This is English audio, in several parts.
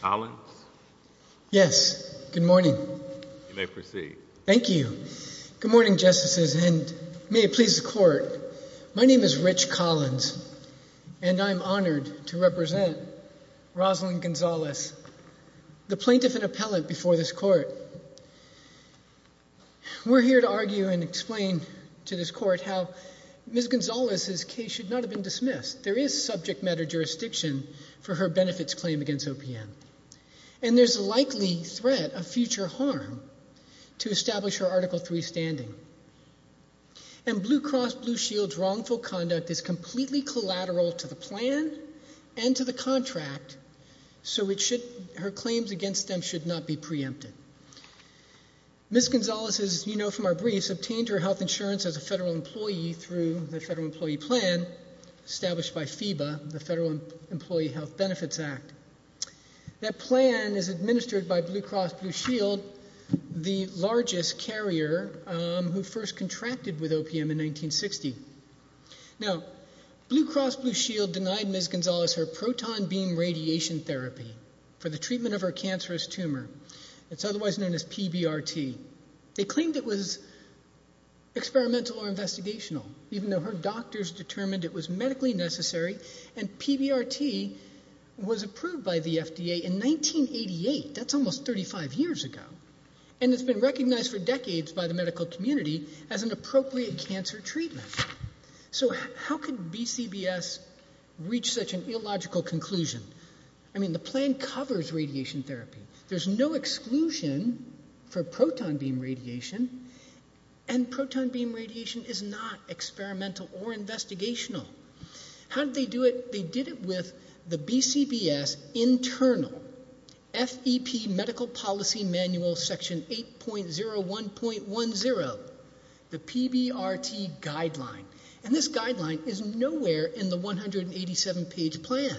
Collins? Yes. Good morning. You may proceed. Thank you. Good morning, Justices, and may it please the Court. My name is Rich Collins, and I'm honored to represent Rosalyn Gonzales, the plaintiff and appellate before this Court. We're here to argue and explain to this Court how Ms. Gonzales's case should not have been dismissed. There is subject matter jurisdiction for her benefits claim against OPM, and there's a likely threat of future harm to establish her Article III standing. And Blue Cross Blue Shield's wrongful conduct is completely collateral to the plan and to the contract, so her claims against them should not be preempted. Ms. Gonzales is an employee through the Federal Employee Plan established by FEBA, the Federal Employee Health Benefits Act. That plan is administered by Blue Cross Blue Shield, the largest carrier who first contracted with OPM in 1960. Now, Blue Cross Blue Shield denied Ms. Gonzales her proton beam radiation therapy for the treatment of her cancerous tumor. It's otherwise known as PBRT. They claimed it was experimental or investigational, even though her doctors determined it was medically necessary, and PBRT was approved by the FDA in 1988. That's almost 35 years ago. And it's been recognized for decades by the medical community as an appropriate cancer treatment. So how could BCBS reach such an illogical conclusion? I mean, the plan covers radiation therapy. There's no exclusion for proton beam radiation, and proton beam radiation is not experimental or investigational. How did they do it? They did it with the BCBS internal FEP Medical Policy Manual, Section 8.01.10, the PBRT guideline. And this guideline is nowhere in the 187-page plan.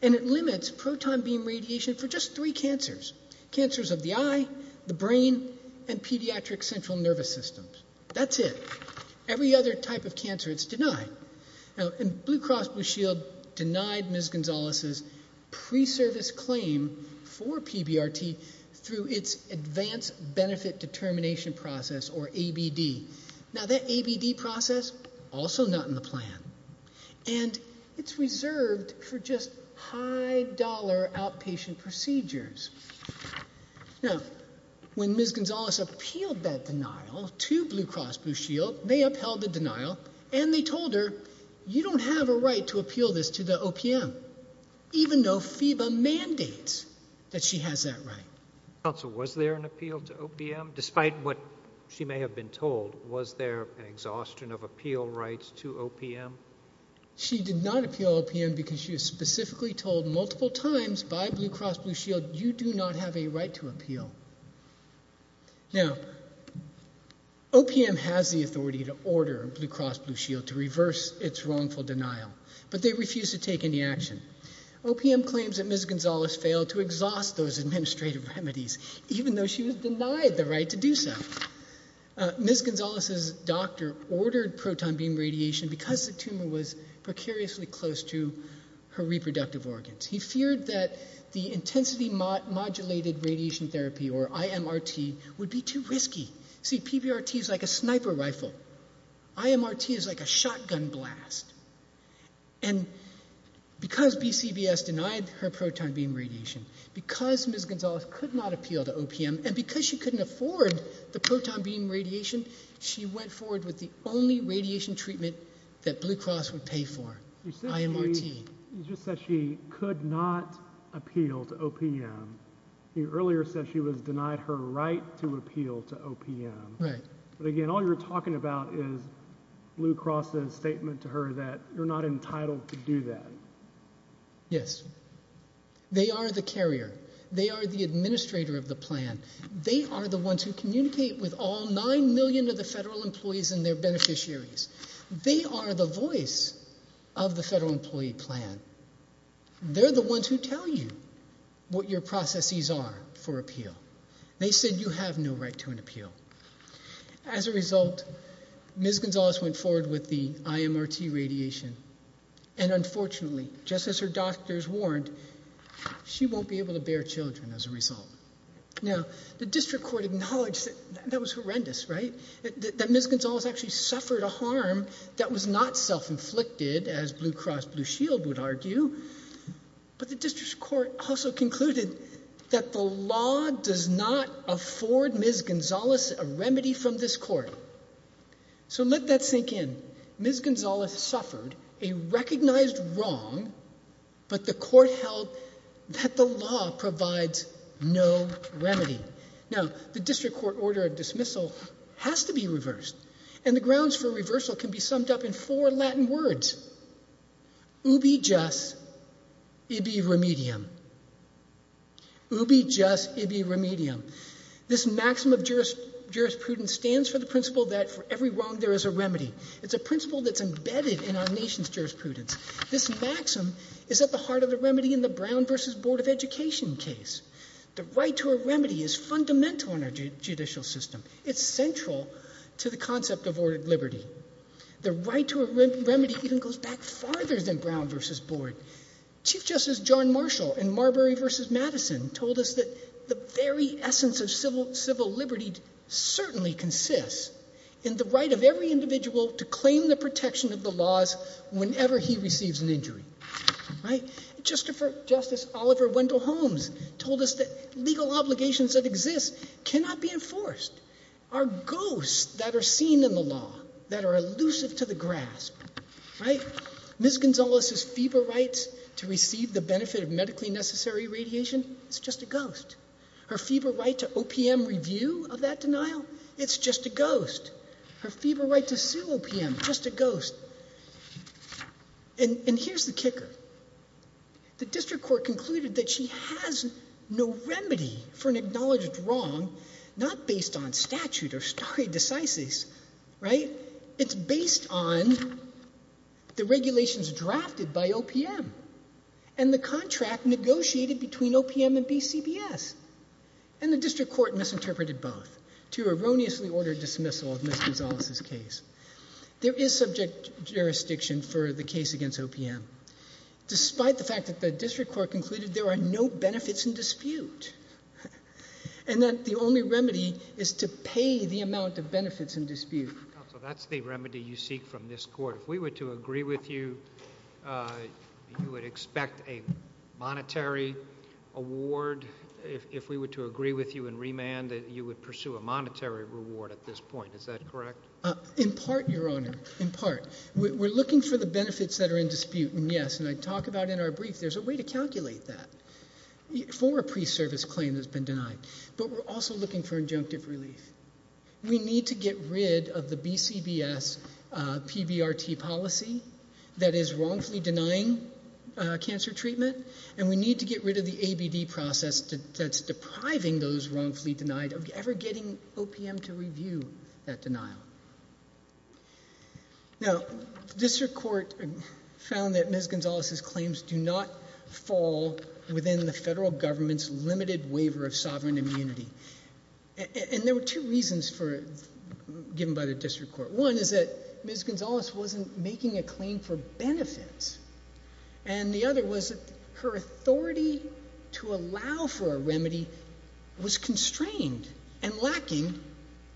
And it limits proton beam radiation for just three cancers, cancers of the eye, the brain, and pediatric central nervous systems. That's it. Every other type of cancer, it's denied. Now, Blue Cross Blue Shield has an Advanced Benefit Determination Process, or ABD. Now, that ABD process, also not in the plan. And it's reserved for just high-dollar outpatient procedures. Now, when Ms. Gonzalez appealed that denial to Blue Cross Blue Shield, they upheld the denial, and they told her, you don't have a right to appeal this to the OPM, even though the council was there and appealed to OPM, despite what she may have been told, was there an exhaustion of appeal rights to OPM? She did not appeal OPM because she was specifically told multiple times by Blue Cross Blue Shield, you do not have a right to appeal. Now, OPM has the authority to order Blue Cross Blue Shield to reverse its wrongful denial, but they refuse to take any action. OPM claims that Ms. Gonzalez failed to exhaust those administrative remedies, even though she was denied the right to do so. Ms. Gonzalez's doctor ordered proton beam radiation because the tumor was precariously close to her reproductive organs. He feared that the Intensity Modulated Radiation Therapy, or IMRT, would be too risky. See, PBRT is like a sniper rifle. IMRT is like a shotgun blast. And because BCBS denied her proton beam radiation, because Ms. Gonzalez could not appeal to OPM, and because she couldn't afford the proton beam radiation, she went forward with the only radiation treatment that Blue Cross would pay for, IMRT. You just said she could not appeal to OPM. You earlier said she was denied her right to appeal to OPM. Right. But again, all you're talking about is Blue Cross's statement to her that you're not entitled to do that. Yes. They are the carrier. They are the administrator of the plan. They are the ones who communicate with all nine million of the federal employees and their beneficiaries. They are the voice of the Federal Employee Plan. They're the ones who tell you what your processes are for appeal. They said you have no right to an appeal. As a result, Ms. Gonzalez went forward with the IMRT radiation. And unfortunately, just as her doctors warned, she won't be able to bear children as a result. Now, the District Court acknowledged that that was horrendous, right? That Ms. Gonzalez actually suffered a harm that was not self-inflicted, as Blue Cross Blue Shield would argue. But the District Court also concluded that the law does not afford Ms. Gonzalez a remedy from this court. So let that sink in. Ms. Gonzalez suffered a recognized wrong, but the court held that the law provides no remedy. Now, the District Court order of dismissal has to be reversed. And the grounds for reversal can be summed up in four Latin words, ubi just, ibi remedium. Ubi just, ibi remedium. This maxim of jurisprudence stands for the principle that for every wrong there is a remedy. It's a principle that's embedded in our nation's jurisprudence. This maxim is at the heart of the remedy in the Brown v. Board of Education case. The right to a remedy is fundamental in our judicial system. It's central to the concept of liberty. The right to a remedy even goes back farther than Brown v. Board. Chief Justice John Marshall in Marbury v. Madison told us that the very essence of civil liberty certainly consists in the right of every individual to claim the protection of the laws whenever he receives an injury. Right? Justice Oliver Wendell Holmes told us that legal obligations that exist cannot be enforced, are ghosts that are seen in the law, that are elusive to the grasp. Right? Ms. Gonzalez's fever rights to receive the benefit of medically necessary radiation is just a ghost. Her fever right to OPM review of that denial, it's just a ghost. Her fever right to sue OPM, just a ghost. And here's the kicker. The district court concluded that she has no remedy for an acknowledged wrong, not based on statute or stare decisis. Right? It's based on the regulations drafted by OPM and the contract negotiated between OPM and BCBS. And the district court misinterpreted both to erroneously order dismissal of Ms. Gonzalez's case. There is subject jurisdiction for the case against OPM. Despite the fact that the district court concluded there are no benefits in dispute. And that the only remedy is to pay the amount of benefits in dispute. Counsel, that's the remedy you seek from this court. If we were to agree with you, you would expect a monetary award. If we were to agree with you in remand, you would pursue a monetary reward at this point. Is that correct? In part, your honor. In part. We're looking for the benefits that are in dispute. And yes, and I talk about in our brief, there's a way to calculate that. For a pre-service claim that's been denied. But we're also looking for injunctive relief. We need to get rid of the BCBS PBRT policy that is wrongfully denying cancer treatment. And we need to get rid of the ABD process that's depriving those wrongfully denied of ever getting OPM to review that denial. Now, district court found that Ms. Gonzalez's claims do not fall within the federal government's limited waiver of sovereign immunity. And there were two reasons given by the district court. One is that Ms. Gonzalez wasn't making a claim for benefits. And the other was that her authority to allow for a remedy was constrained and lacking.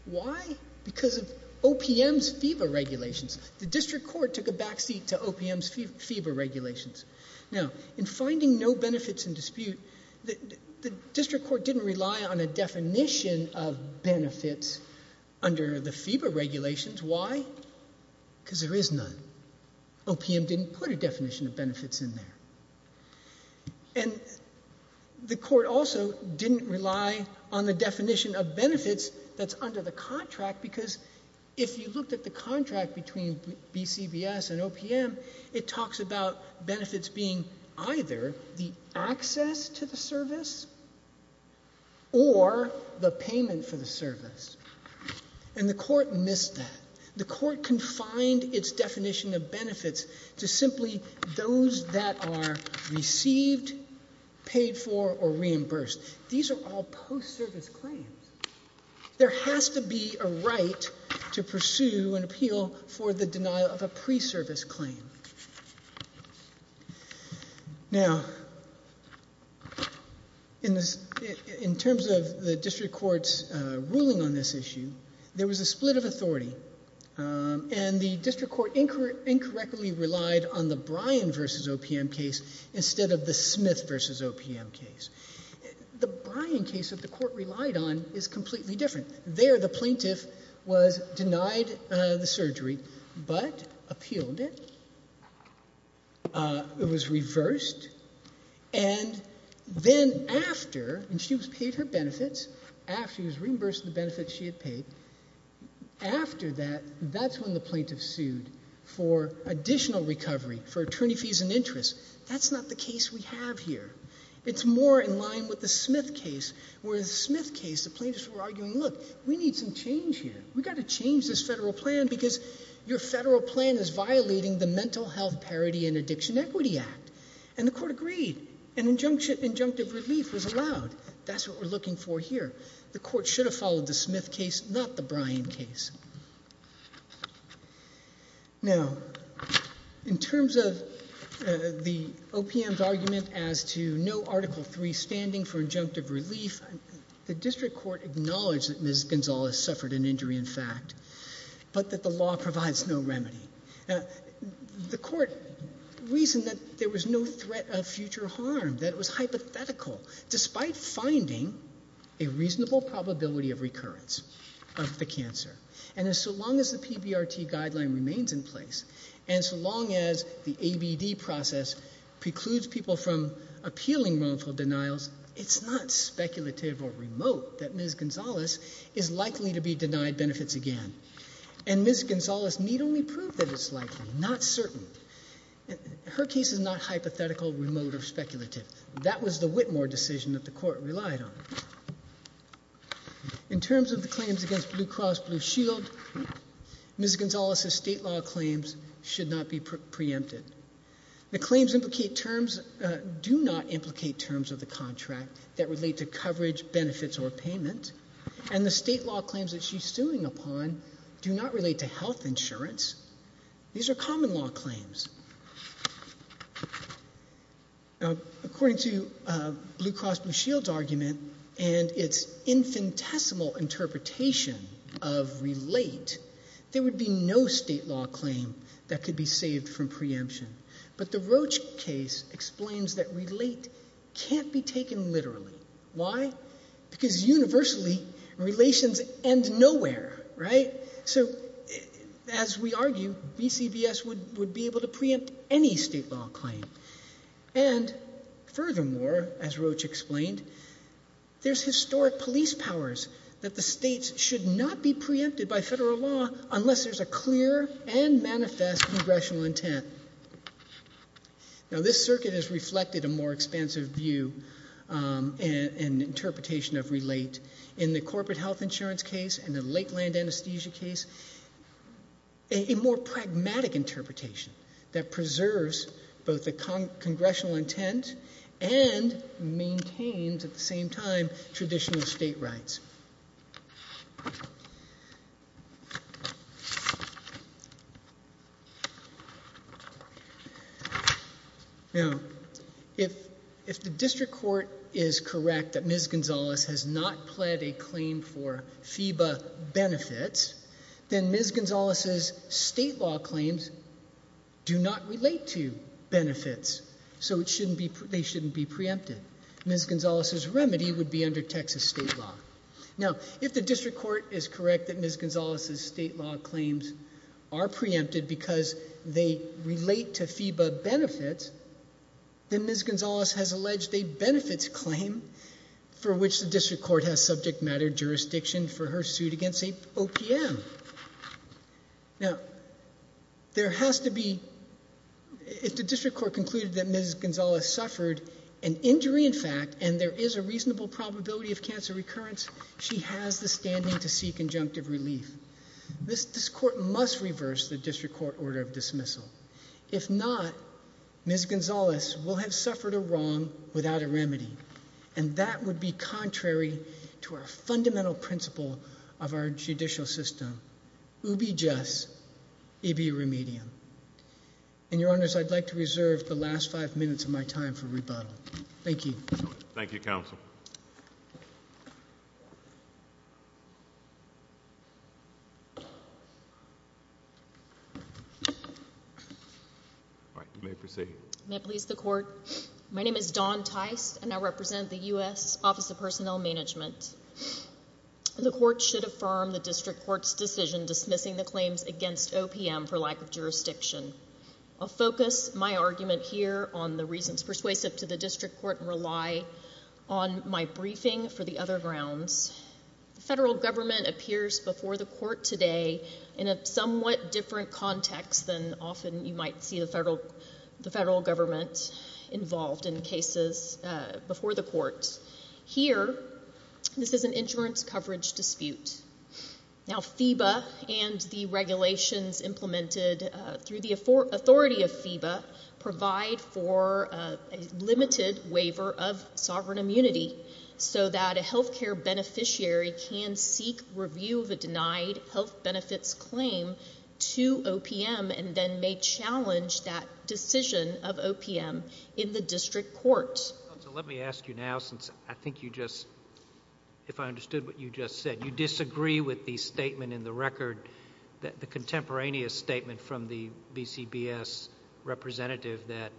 Why? Because of OPM's FEBA regulations. The district court took a back seat to OPM's FEBA regulations. Now, in finding no benefits in dispute, the district court didn't rely on a definition of benefits under the FEBA regulations. Why? Because there is none. OPM didn't put a definition of benefits in there. And the court also didn't rely on the definition of benefits that's under the contract because if you looked at the contract between BCBS and OPM, it talks about benefits being either the access to the service or the payment for the service. And the court missed that. And the court confined its definition of benefits to simply those that are received, paid for or reimbursed. These are all post-service claims. There has to be a right to pursue and appeal for the denial of a pre-service claim. Now, in terms of the district court's ruling on this issue, there was a split of authority. And the district court incorrectly relied on the Bryan v. OPM case instead of the Smith v. OPM case. The Bryan case that the court relied on is completely different. There, the plaintiff was denied the surgery but appealed it. It was reversed. And then after she was paid her benefits, after she was reimbursed the benefits she had paid, after that, that's when the plaintiff sued for additional recovery, for attorney fees and interest. That's not the case we have here. It's more in line with the Smith case, where in the Smith case the plaintiff said, we need some change here. We've got to change this federal plan because your federal plan is violating the Mental Health Parity and Addiction Equity Act. And the court agreed. And injunctive relief was allowed. That's what we're looking for here. The court should have followed the Smith case, not the Bryan case. Now, in terms of the OPM's argument as to no Article III standing for injunctive relief, the district court acknowledged that Ms. Gonzales suffered an injury in fact, but that the law provides no remedy. The court reasoned that there was no threat of future harm, that it was hypothetical, despite finding a reasonable probability of recurrence of the cancer. And so long as the PBRT guideline remains in place, and so long as the ABD process precludes people from appealing wrongful denials, it's not speculative or remote that Ms. Gonzales is likely to be denied benefits again. And Ms. Gonzales need only prove that it's likely, not certain. Her case is not hypothetical, remote, or speculative. That was the Whitmore decision that the court relied on. In terms of the claims against Blue Cross Blue Shield, Ms. Gonzales' state law claims should not be preempted. The claims implicate terms, do not implicate terms of the contract that relate to coverage, benefits, or payment. And the state law claims that she's suing upon do not relate to health insurance. These are common law claims. According to Blue Cross Blue Shield's argument and its infinitesimal interpretation of relate, there would be no state law claim that could be saved from preemption. But the Roach case explains that relate can't be taken literally. Why? Because universally, relations end nowhere, right? So as we argue, BCBS would be able to preempt any state law claim. And furthermore, as Roach explained, there's historic police powers that the states should not be preempted by federal law unless there's a clear and manifest congressional intent. Now this circuit has reflected a more expansive view and interpretation of relate in the corporate health insurance case and the Lakeland anesthesia case. A more pragmatic interpretation that preserves both the congressional intent and maintains, at the same time, traditional state rights. If the district court is correct that Ms. Gonzalez has not pled a claim for FEBA benefits, then Ms. Gonzalez's state law claims do not relate to benefits, so they shouldn't be preempted. Ms. Gonzalez's remedy would be under Texas state law. Now, if the district court is correct that Ms. Gonzalez's state law claims are preempted because they relate to FEBA benefits, then Ms. Gonzalez has alleged a benefits claim for which the district court has subject matter jurisdiction for her suit against the OPM. Now, there has to be, if the district court concluded that Ms. Gonzalez suffered an injury, in fact, and there is a reasonable probability of cancer recurrence, she has the standing to seek injunctive relief. This court must reverse the district court order of dismissal. If not, Ms. Gonzalez will have suffered a wrong without a remedy, and that would be contrary to our fundamental principle of our last five minutes of my time for rebuttal. Thank you. Thank you, counsel. All right. You may proceed. May it please the court? My name is Dawn Tice, and I represent the U.S. Office of Personnel Management. The court should affirm the district court's decision dismissing the claims against OPM for lack of jurisdiction. I'll focus my argument here on the reasons persuasive to the district court and rely on my briefing for the other grounds. The federal government appears before the court today in a somewhat different context than often you might see the federal government involved in cases before the court. Here, this is an insurance coverage dispute. Now, FEBA and the regulations implemented through the authority of FEBA provide for a limited waiver of sovereign immunity so that a health care beneficiary can seek review of a denied health benefits claim to OPM and then may challenge that decision of OPM in the district court. Let me ask you now, since I think you just, if I understood what you just said, you disagree with the statement in the record, the contemporaneous statement from the BCBS representative that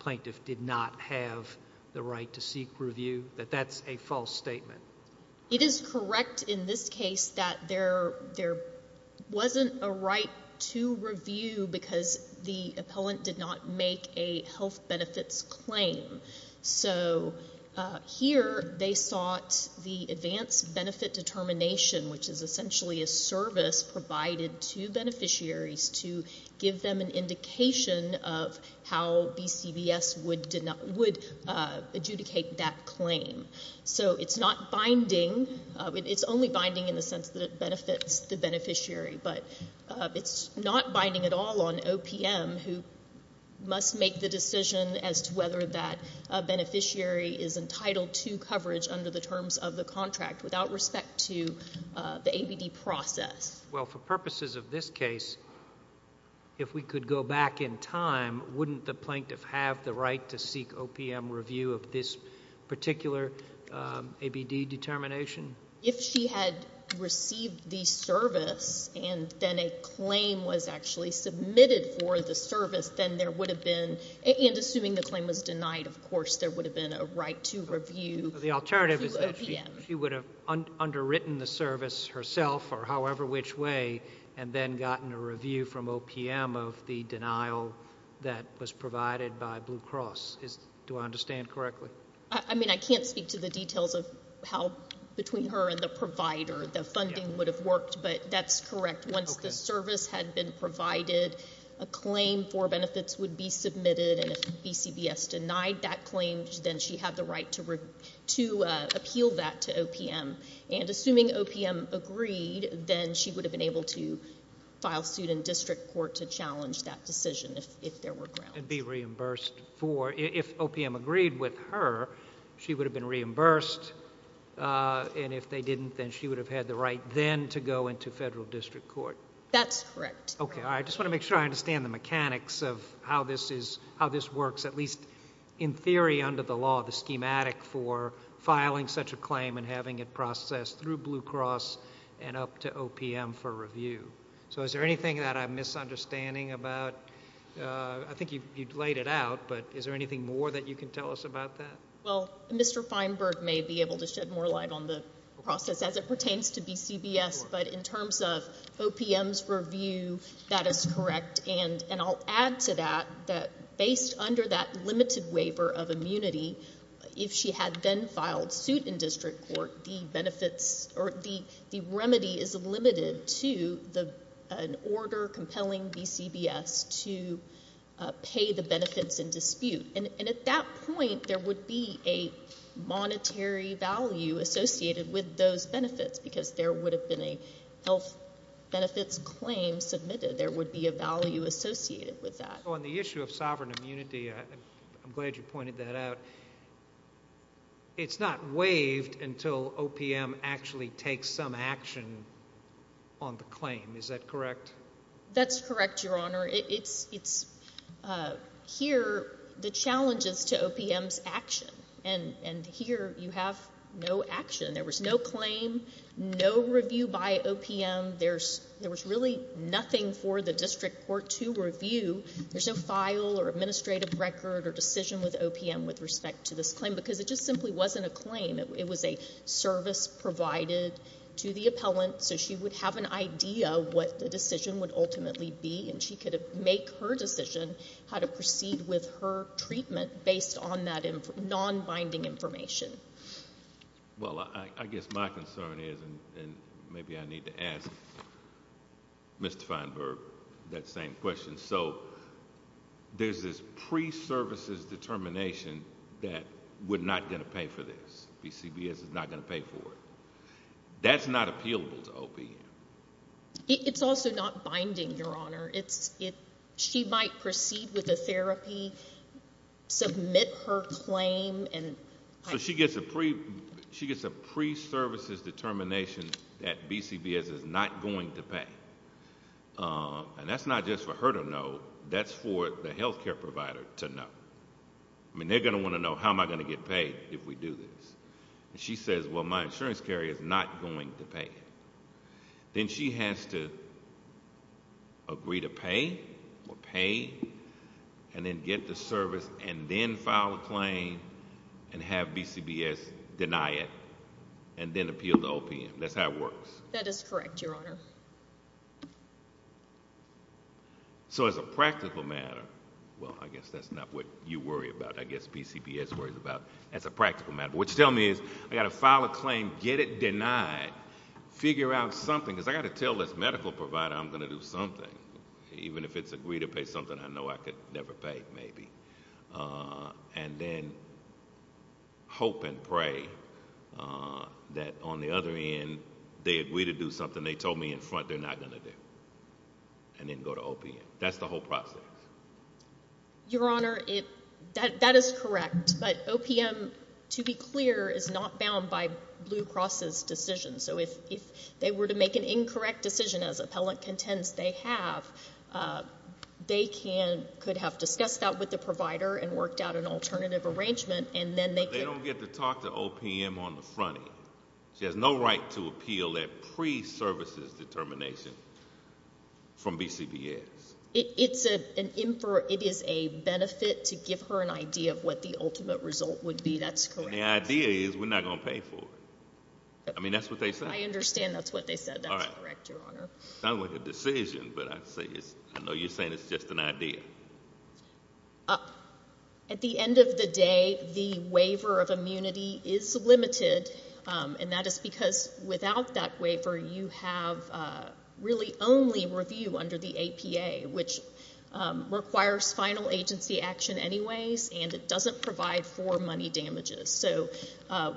plaintiff did not have the right to seek review, that that's a false statement? It is correct in this case that there wasn't a right to review because the appellant did not make a health benefits claim. So here they sought the advanced benefit determination, which is essentially a service provided to beneficiaries to give them an indication of how BCBS would adjudicate that claim. So it's not binding. It's only binding in the sense that it benefits the beneficiary, but it's not binding at all on OPM who must make the decision as to whether that beneficiary is entitled to coverage under the terms of the contract without respect to the ABD process. Well, for purposes of this case, if we could go back in time, wouldn't the plaintiff have the right to seek OPM review of this particular ABD determination? If she had received the service and then a claim was actually submitted for the service, then there would have been, and assuming the claim was denied, of course, there would have been a right to review to OPM. The alternative is that she would have underwritten the service herself or however which way and then gotten a review from OPM of the denial that was provided by Blue Cross. Do I understand correctly? I mean, I can't speak to the details of how between her and the provider the funding would have worked, but that's correct. Once the service had been provided, a claim for benefits would be submitted, and if BCBS denied that claim, then she had the right to appeal that to OPM. And assuming OPM agreed, then she would have been able to file suit in district court to challenge that decision if there were grounds. And be reimbursed for, if OPM agreed with her, she would have been reimbursed, and if they didn't, then she would have had the right then to go into federal district court. That's correct. Okay. All right. I just want to make sure I understand the mechanics of how this works, at least in theory under the law, the schematic for filing such a claim and having it processed through Blue Cross and up to OPM for review. So is there anything that I'm misunderstanding about? I think you laid it out, but is there anything more that you can tell us about that? Well, Mr. Feinberg may be able to shed more light on the process as it pertains to BCBS, but in terms of OPM's review, that is correct. And I'll add to that that based under that limited waiver of immunity, if she had then filed suit in district court, the benefits or the remedy is limited to an order compelling BCBS to pay the benefits in dispute. And at that point, there would be a monetary value associated with those benefits, because there would have been a health benefits claim submitted. There would be a value associated with that. On the issue of sovereign immunity, I'm glad you pointed that out. It's not waived until OPM actually takes some action on the claim. Is that correct? That's correct, Your Honor. Here, the challenge is to OPM's action, and here you have no action. There was no claim, no review by OPM. There was really nothing for the district court to review. There's no file or administrative record or decision with OPM with respect to this claim, because it just simply wasn't a claim. It was a service provided to the appellant, so she would have an idea of what the decision would ultimately be, and she could make her decision how to proceed with her treatment based on that non-binding information. Well, I guess my concern is, and maybe I need to ask Mr. Feinberg that same question. So there's this pre-services determination that we're not going to pay for this. BCBS is not going to pay for it. That's not appealable to OPM. It's also not binding, Your Honor. She might proceed with the therapy, submit her claim, and... So she gets a pre-services determination that BCBS is not going to pay, and that's not just for her to know. That's for the health care provider to know. I mean, they're going to want to know, how am I going to get paid if we do this? She says, well, my insurance carrier is not going to pay. Then she has to agree to pay, or pay, and then get the service and then file a claim and have BCBS deny it, and then appeal to OPM. That's how it works. That is correct, Your Honor. So as a practical matter, well, I guess that's not what you worry about. I guess BCBS worries about, as a practical matter. What you're telling me is, I've got to file a claim, get it denied, figure out something, because I've got to tell this medical provider I'm going to do something, even if it's agree to pay something I know I could never pay, maybe, and then hope and pray that, on the other end, they agree to do something they told me in front they're not going to do, and then go to OPM. That's the whole process. Your Honor, that is correct, but OPM, to be clear, is not bound by Blue Cross's decision. So if they were to make an incorrect decision, as appellant contents they have, they could have discussed that with the provider and worked out an alternative arrangement, and then they could... But they don't get to talk to OPM on the front end. She has no right to appeal that pre-services determination from BCBS. It is a benefit to give her an idea of what the ultimate result would be. That's correct. And the idea is, we're not going to pay for it. I mean, that's what they said. I understand that's what they said. That's correct, Your Honor. Not with a decision, but I know you're saying it's just an idea. At the end of the day, the waiver of immunity is limited, and that is because, without that waiver, you have really only review under the APA, which requires final agency action anyways, and it doesn't provide for money damages. So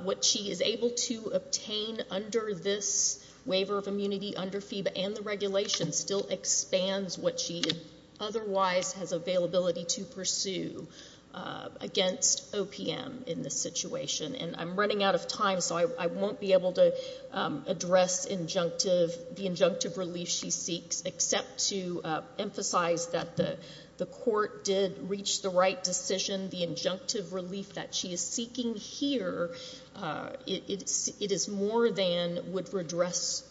what she is able to obtain under this waiver of immunity under FEBA and the regulation still expands what she otherwise has availability to pursue against OPM in this situation. And I'm running out of time, so I won't be able to address the injunctive relief she seeks, except to emphasize that the court did reach the right decision. The injunctive relief would redress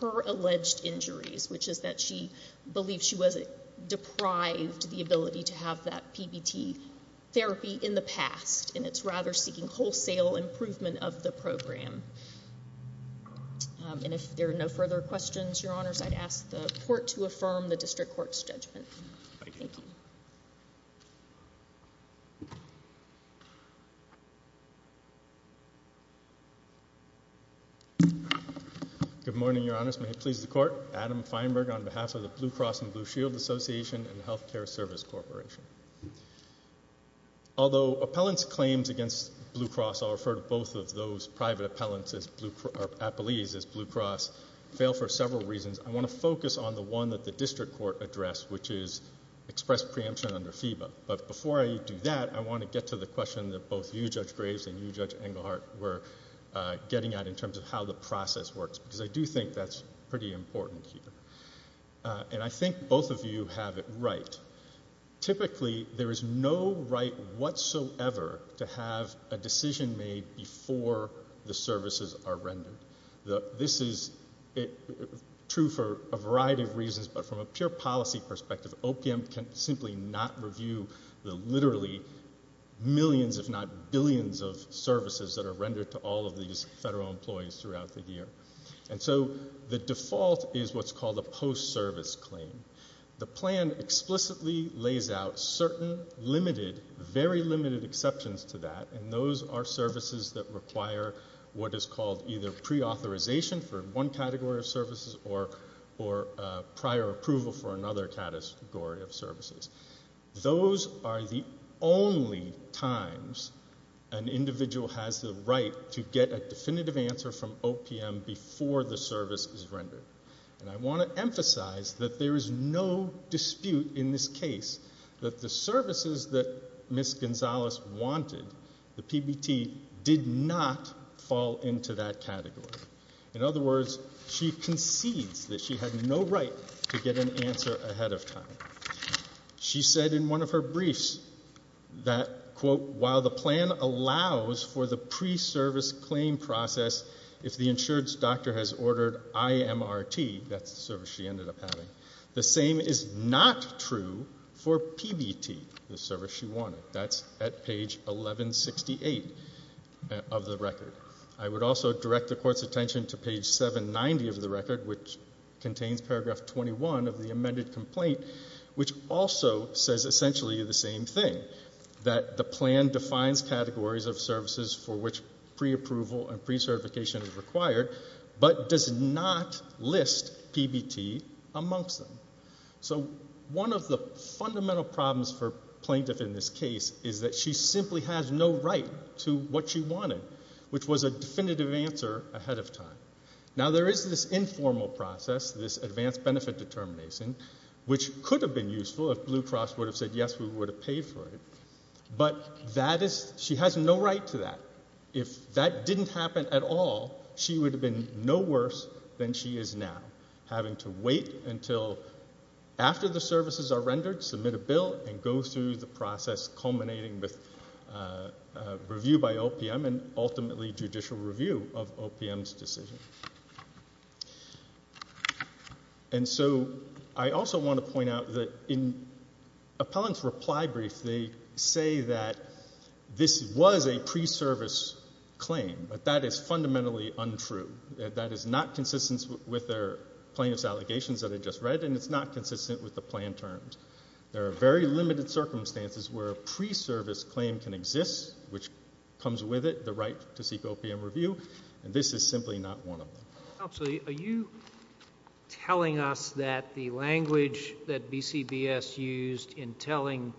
her alleged injuries, which is that she believed she was deprived the ability to have that PBT therapy in the past, and it's rather seeking wholesale improvement of the program. And if there are no further questions, Your Honors, I'd ask the court to affirm the district court's judgment. Thank you. Good morning, Your Honors. May it please the court, Adam Feinberg on behalf of the Blue Cross and Blue Shield Association and Healthcare Service Corporation. Although appellant's claims against Blue Cross, I'll refer to both of those private appellees as Blue Cross, fail for several reasons. I want to focus on the one that the district court addressed, which is express preemption under FEBA. But before I do that, I want to get to the question that both you, Judge Graves, and you, Judge Engelhardt, were getting at in terms of how the process works, because I do think that's pretty important here. And I think both of you have it right. Typically, there is no right whatsoever to have a decision made before the services are rendered. This is true for a variety of reasons, but from a pure policy perspective, OPM can simply not review the literally millions, if not billions, of services that are rendered to all of these federal employees throughout the year. And so the default is what's called a post-service claim. The plan explicitly lays out certain limited, very limited exceptions to that, and those are services that require what is called either pre-authorization for one category of services or prior approval for another category of services. Those are the only times an individual has the right to get a definitive answer from OPM before the service is rendered. And I want to emphasize that there is no dispute in this case that the services that Ms. Gonzalez wanted, the PBT, did not fall into that category. In other words, she concedes that she had no right to get an answer ahead of time. She said in one of her briefs that, quote, while the plan allows for the pre-service claim process, if the insured's doctor has ordered IMRT, that's the service she ended up having, the same is not true for PBT, the service she wanted. That's at page 1168 of the record. I would also direct the Court's attention to page 790 of the record, which contains paragraph 21 of the amended complaint, which also says essentially the same thing, that the plan defines categories of services for which pre-approval and pre-certification is required, but does not list PBT amongst them. So one of the fundamental problems for plaintiff in this case is that she simply has no right to what she wanted, which was a definitive answer ahead of time. Now there is this informal process, this advanced benefit determination, which could have been useful if Blue Cross would have said yes, we would have paid for it, but she has no right to that. If that didn't happen at all, she would have been no worse than she is now, having to wait until after the services are rendered, submit a bill, and go through the process culminating with review by OPM and ultimately judicial review of OPM's decision. And so I also want to point out that in Appellant's reply brief, they say that this was a pre-service claim, but that is fundamentally untrue. That is not consistent with their plaintiff's allegations that I just read, and it's not consistent with the plan terms. There are very limited circumstances where a pre-service claim can exist, which comes with it, the right to seek OPM review, and this is simply not one of them. Counsel, are you telling us that the language that BCBS used in telling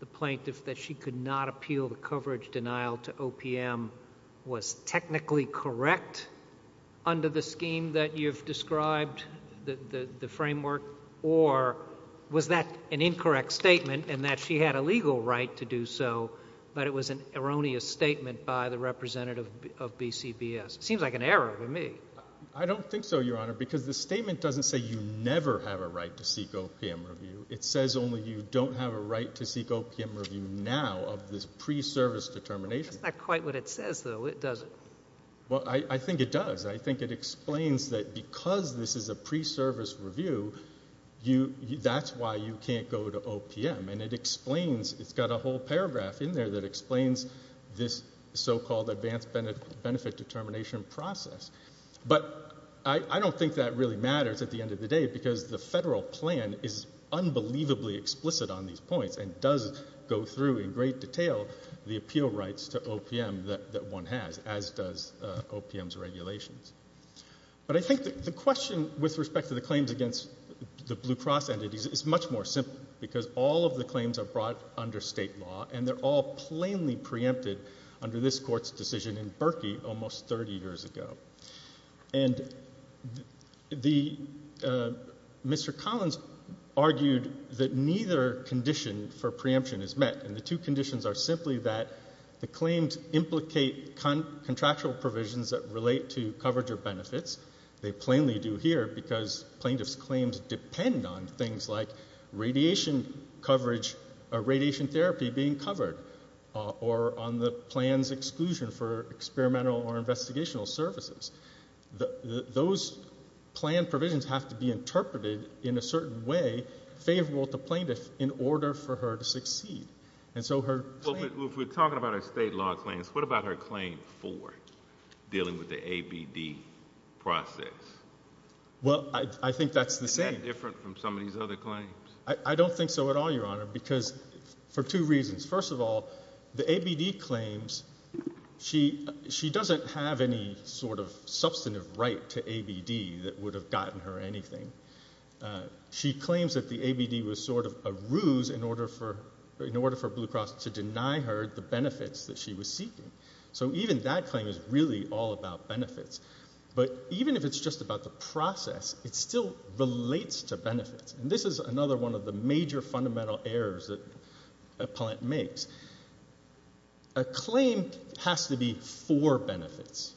the plaintiff that she could not appeal the coverage denial to OPM was technically correct under the scheme that you've described, the framework, or was that an incorrect statement in that she had a legal right to do so, but it was an erroneous statement by the representative of BCBS? Seems like an error to me. I don't think so, Your Honor, because the statement doesn't say you never have a right to seek OPM review. It says only you don't have a right to seek OPM review now of this pre-service determination. That's not quite what it says, though, is it? Well, I think it does. I think it explains that because this is a pre-service review, that's why you can't go to OPM, and it explains, it's got a whole paragraph in there that explains this so-called advanced benefit determination process, but I don't think that really matters at the end of the day because the federal plan is unbelievably explicit on these points and does go through in great detail the appeal rights to OPM that one has, as does OPM's regulations. But I think the question with respect to the claims against the Blue Cross entities is much more simple because all of the claims are brought under state law, and they're all plainly preempted under this Court's decision in Berkey almost 30 years ago. And Mr. Collins argued that neither condition for preemption is met, and the two conditions are simply that the claims implicate contractual provisions that relate to coverage or benefits. They plainly do here because plaintiffs' claims depend on things like radiation coverage or radiation therapy being covered or on the plan's exclusion for experimental or investigational services. Those plan provisions have to be interpreted in a certain way favorable to plaintiffs in order for her to succeed. And so her claim... Well, if we're talking about her state law claims, what about her claim for dealing with the ABD process? Well, I think that's the same. Is that different from some of these other claims? I don't think so at all, Your Honor, because for two reasons. First of all, the ABD claims, she doesn't have any sort of substantive right to ABD that would have gotten her anything. She claims that the ABD was sort of a ruse in order for Blue Cross to deny her the benefits that she was seeking. So even that claim is really all about benefits. But even if it's just about the process, it still relates to benefits. And this is another one of the major fundamental errors that a plaintiff makes. A claim has to be for benefits,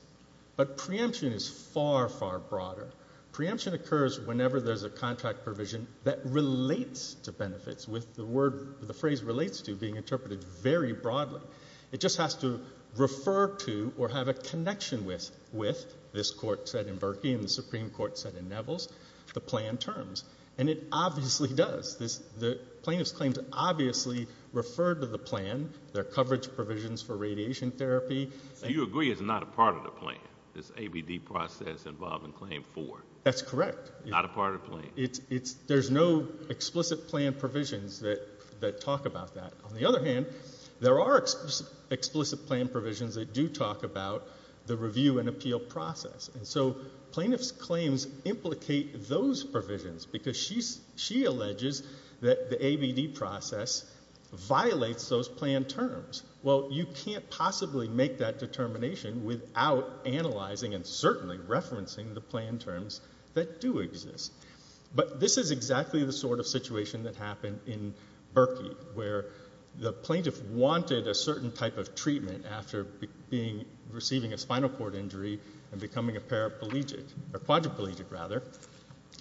but preemption is far, far broader. Preemption occurs whenever there's a contract provision that relates to benefits, with the phrase relates to being interpreted very broadly. It just has to refer to or have a connection with, this Court said in Berkey and the Supreme Court said in Nevels, the plan terms. And it obviously does. The plaintiff's claims obviously refer to the plan, their coverage provisions for radiation therapy. So you agree it's not a part of the plan, this ABD process involving claim for? That's correct. Not a part of the plan? There's no explicit plan provisions that talk about that. On the other hand, there are explicit plan provisions that do talk about the review and appeal process. And so plaintiff's claims implicate those provisions, because she alleges that the ABD process violates those plan terms. Well, you can't possibly make that determination without analyzing and certainly referencing the plan terms that do exist. But this is exactly the sort of situation that happened in Berkey, where the plaintiff wanted a certain type of treatment after receiving a spinal cord injury and becoming a paraplegic, or quadriplegic rather,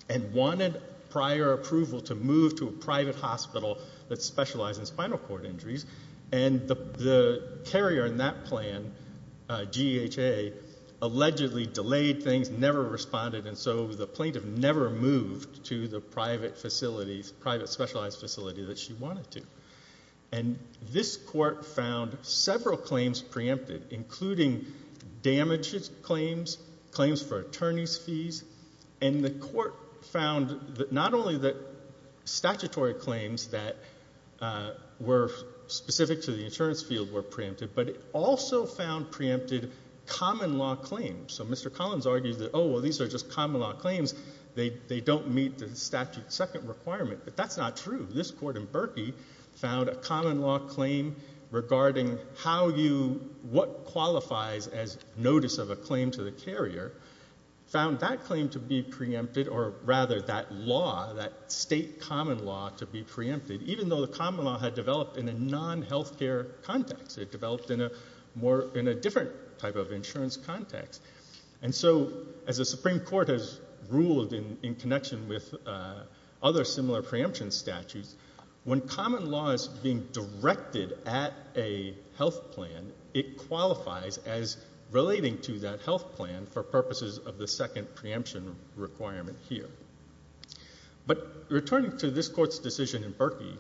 and wanted prior approval to move to a private hospital that specialized in spinal cord injuries. And the carrier in that plan, GEHA, allegedly delayed things, never responded, and so the plaintiff never moved to the private specialized facility that she wanted to. And this court found several claims preempted, including damages claims, claims for attorney's fees, and the court found that not only the statutory claims that were specific to the insurance field were preempted, but it also found preempted common law claims. So Mr. Collins argued that, oh, well, these are just common law claims. They don't meet the statute's second requirement. But that's not true. This court in Berkey found a common law claim regarding how you, what qualifies as notice of a claim to the carrier, found that claim to be preempted, or rather that law, that state common law to be preempted, even though the common law had developed in a non-healthcare context. It developed in a different type of insurance context. And so as the Supreme Court has ruled in connection with other similar preemption statutes, when common law is being directed at a health plan, it qualifies as relating to that health plan for purposes of the second preemption requirement here. But returning to this court's decision in Berkey,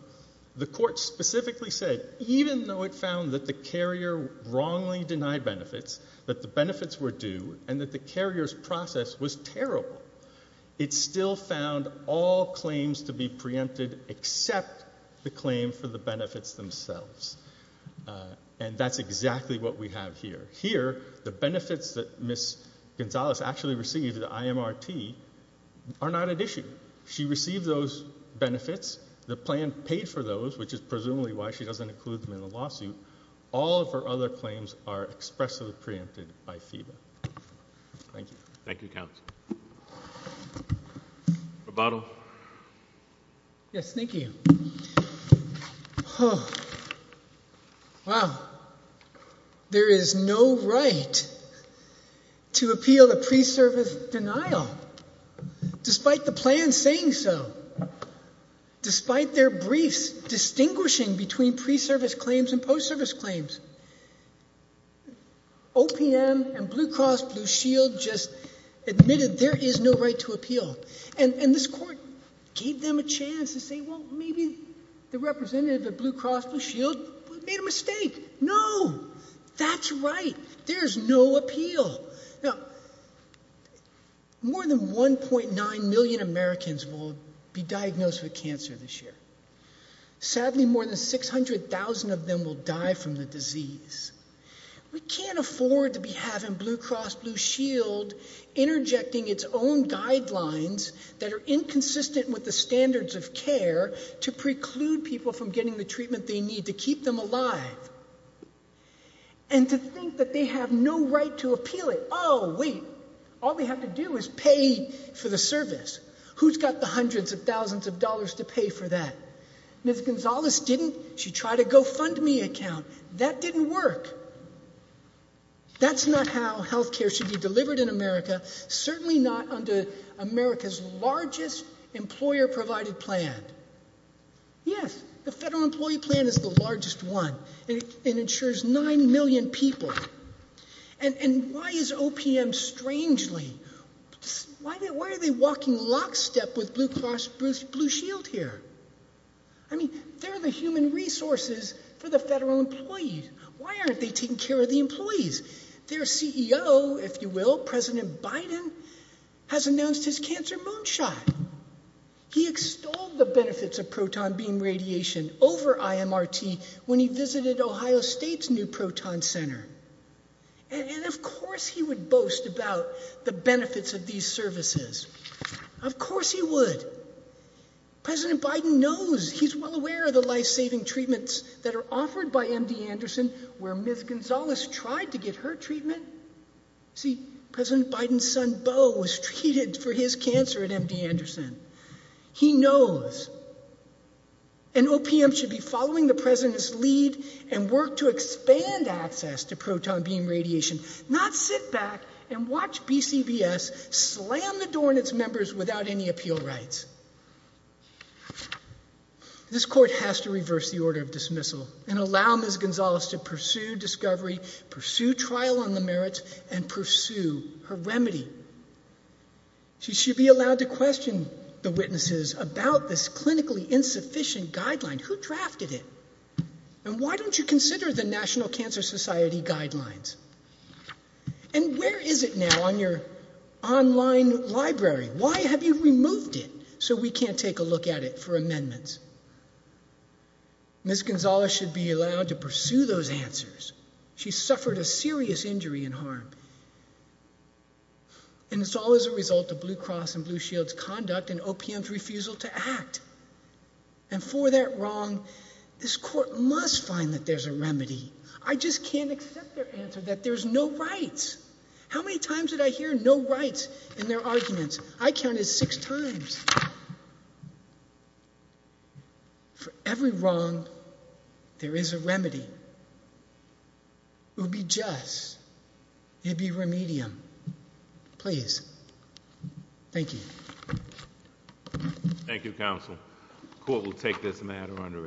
the court specifically said, even though it found that the carrier wrongly denied benefits, that the benefits were due, and that the carrier's process was terrible, it still found all claims to be preempted except the claim for the benefits themselves. And that's exactly what we have here. Here, the benefits that Ms. Gonzalez actually received, the IMRT, are not at issue. She received those benefits. The plan paid for those, which is presumably why she doesn't include them in the lawsuit. All of her other claims are expressly preempted by FEBA. Thank you. Thank you, counsel. Roboto? Yes, thank you. Wow. There is no right to appeal the pre-service denial, despite the claims and post-service claims. OPM and Blue Cross Blue Shield just admitted there is no right to appeal. And this court gave them a chance to say, well, maybe the representative of Blue Cross Blue Shield made a mistake. No, that's right. There's no appeal. More than 1.9 million Americans will be diagnosed with cancer this year. Sadly, more than 600,000 of them will die from the disease. We can't afford to be having Blue Cross Blue Shield interjecting its own guidelines that are inconsistent with the standards of care to preclude people from getting the treatment they need to keep them alive. And to think that they have no right to appeal it. Oh, wait. All they have to do is pay for the service. Who's got the fund me account? That didn't work. That's not how health care should be delivered in America, certainly not under America's largest employer-provided plan. Yes, the federal employee plan is the largest one. It insures 9 million people. And why is OPM strangely, why are they walking lockstep with Blue Cross Blue Shield here? I mean, they're the human resources for the federal employees. Why aren't they taking care of the employees? Their CEO, if you will, President Biden, has announced his cancer moonshot. He extolled the benefits of proton beam radiation over IMRT when he visited Ohio State's new proton center. And of course he would boast about the benefits of these services. Of course he would. President Biden knows, he's well aware of the life-saving treatments that are offered by MD Anderson where Ms. Gonzalez tried to get her treatment. See, President Biden's son, Beau, was treated for his cancer at MD Anderson. He knows. And OPM should be following the President's lead and work to expand access to proton beam radiation, not sit back and watch BCBS slam the door in its members without any appeal rights. This court has to reverse the order of dismissal and allow Ms. Gonzalez to pursue discovery, pursue trial on the merits, and pursue her remedy. She should be allowed to question the witnesses about this clinically insufficient guideline. Who drafted it? And why don't you consider the National Cancer Society guidelines? And where is it now on your online library? Why have you removed it so we can't take a look at it for amendments? Ms. Gonzalez should be allowed to pursue those answers. She suffered a serious injury and harm. And it's all as a result of Blue Cross and Blue Shield's conduct and OPM's refusal to act. And for that wrong, this court must find that there's a remedy. I just can't accept their answer that there's no rights. How many times did I hear no rights in their arguments? I counted six times. For every wrong, there is a remedy. It would be us. It would be remedium. Please. Thank you. Thank you, counsel. The court will take this matter under advisement.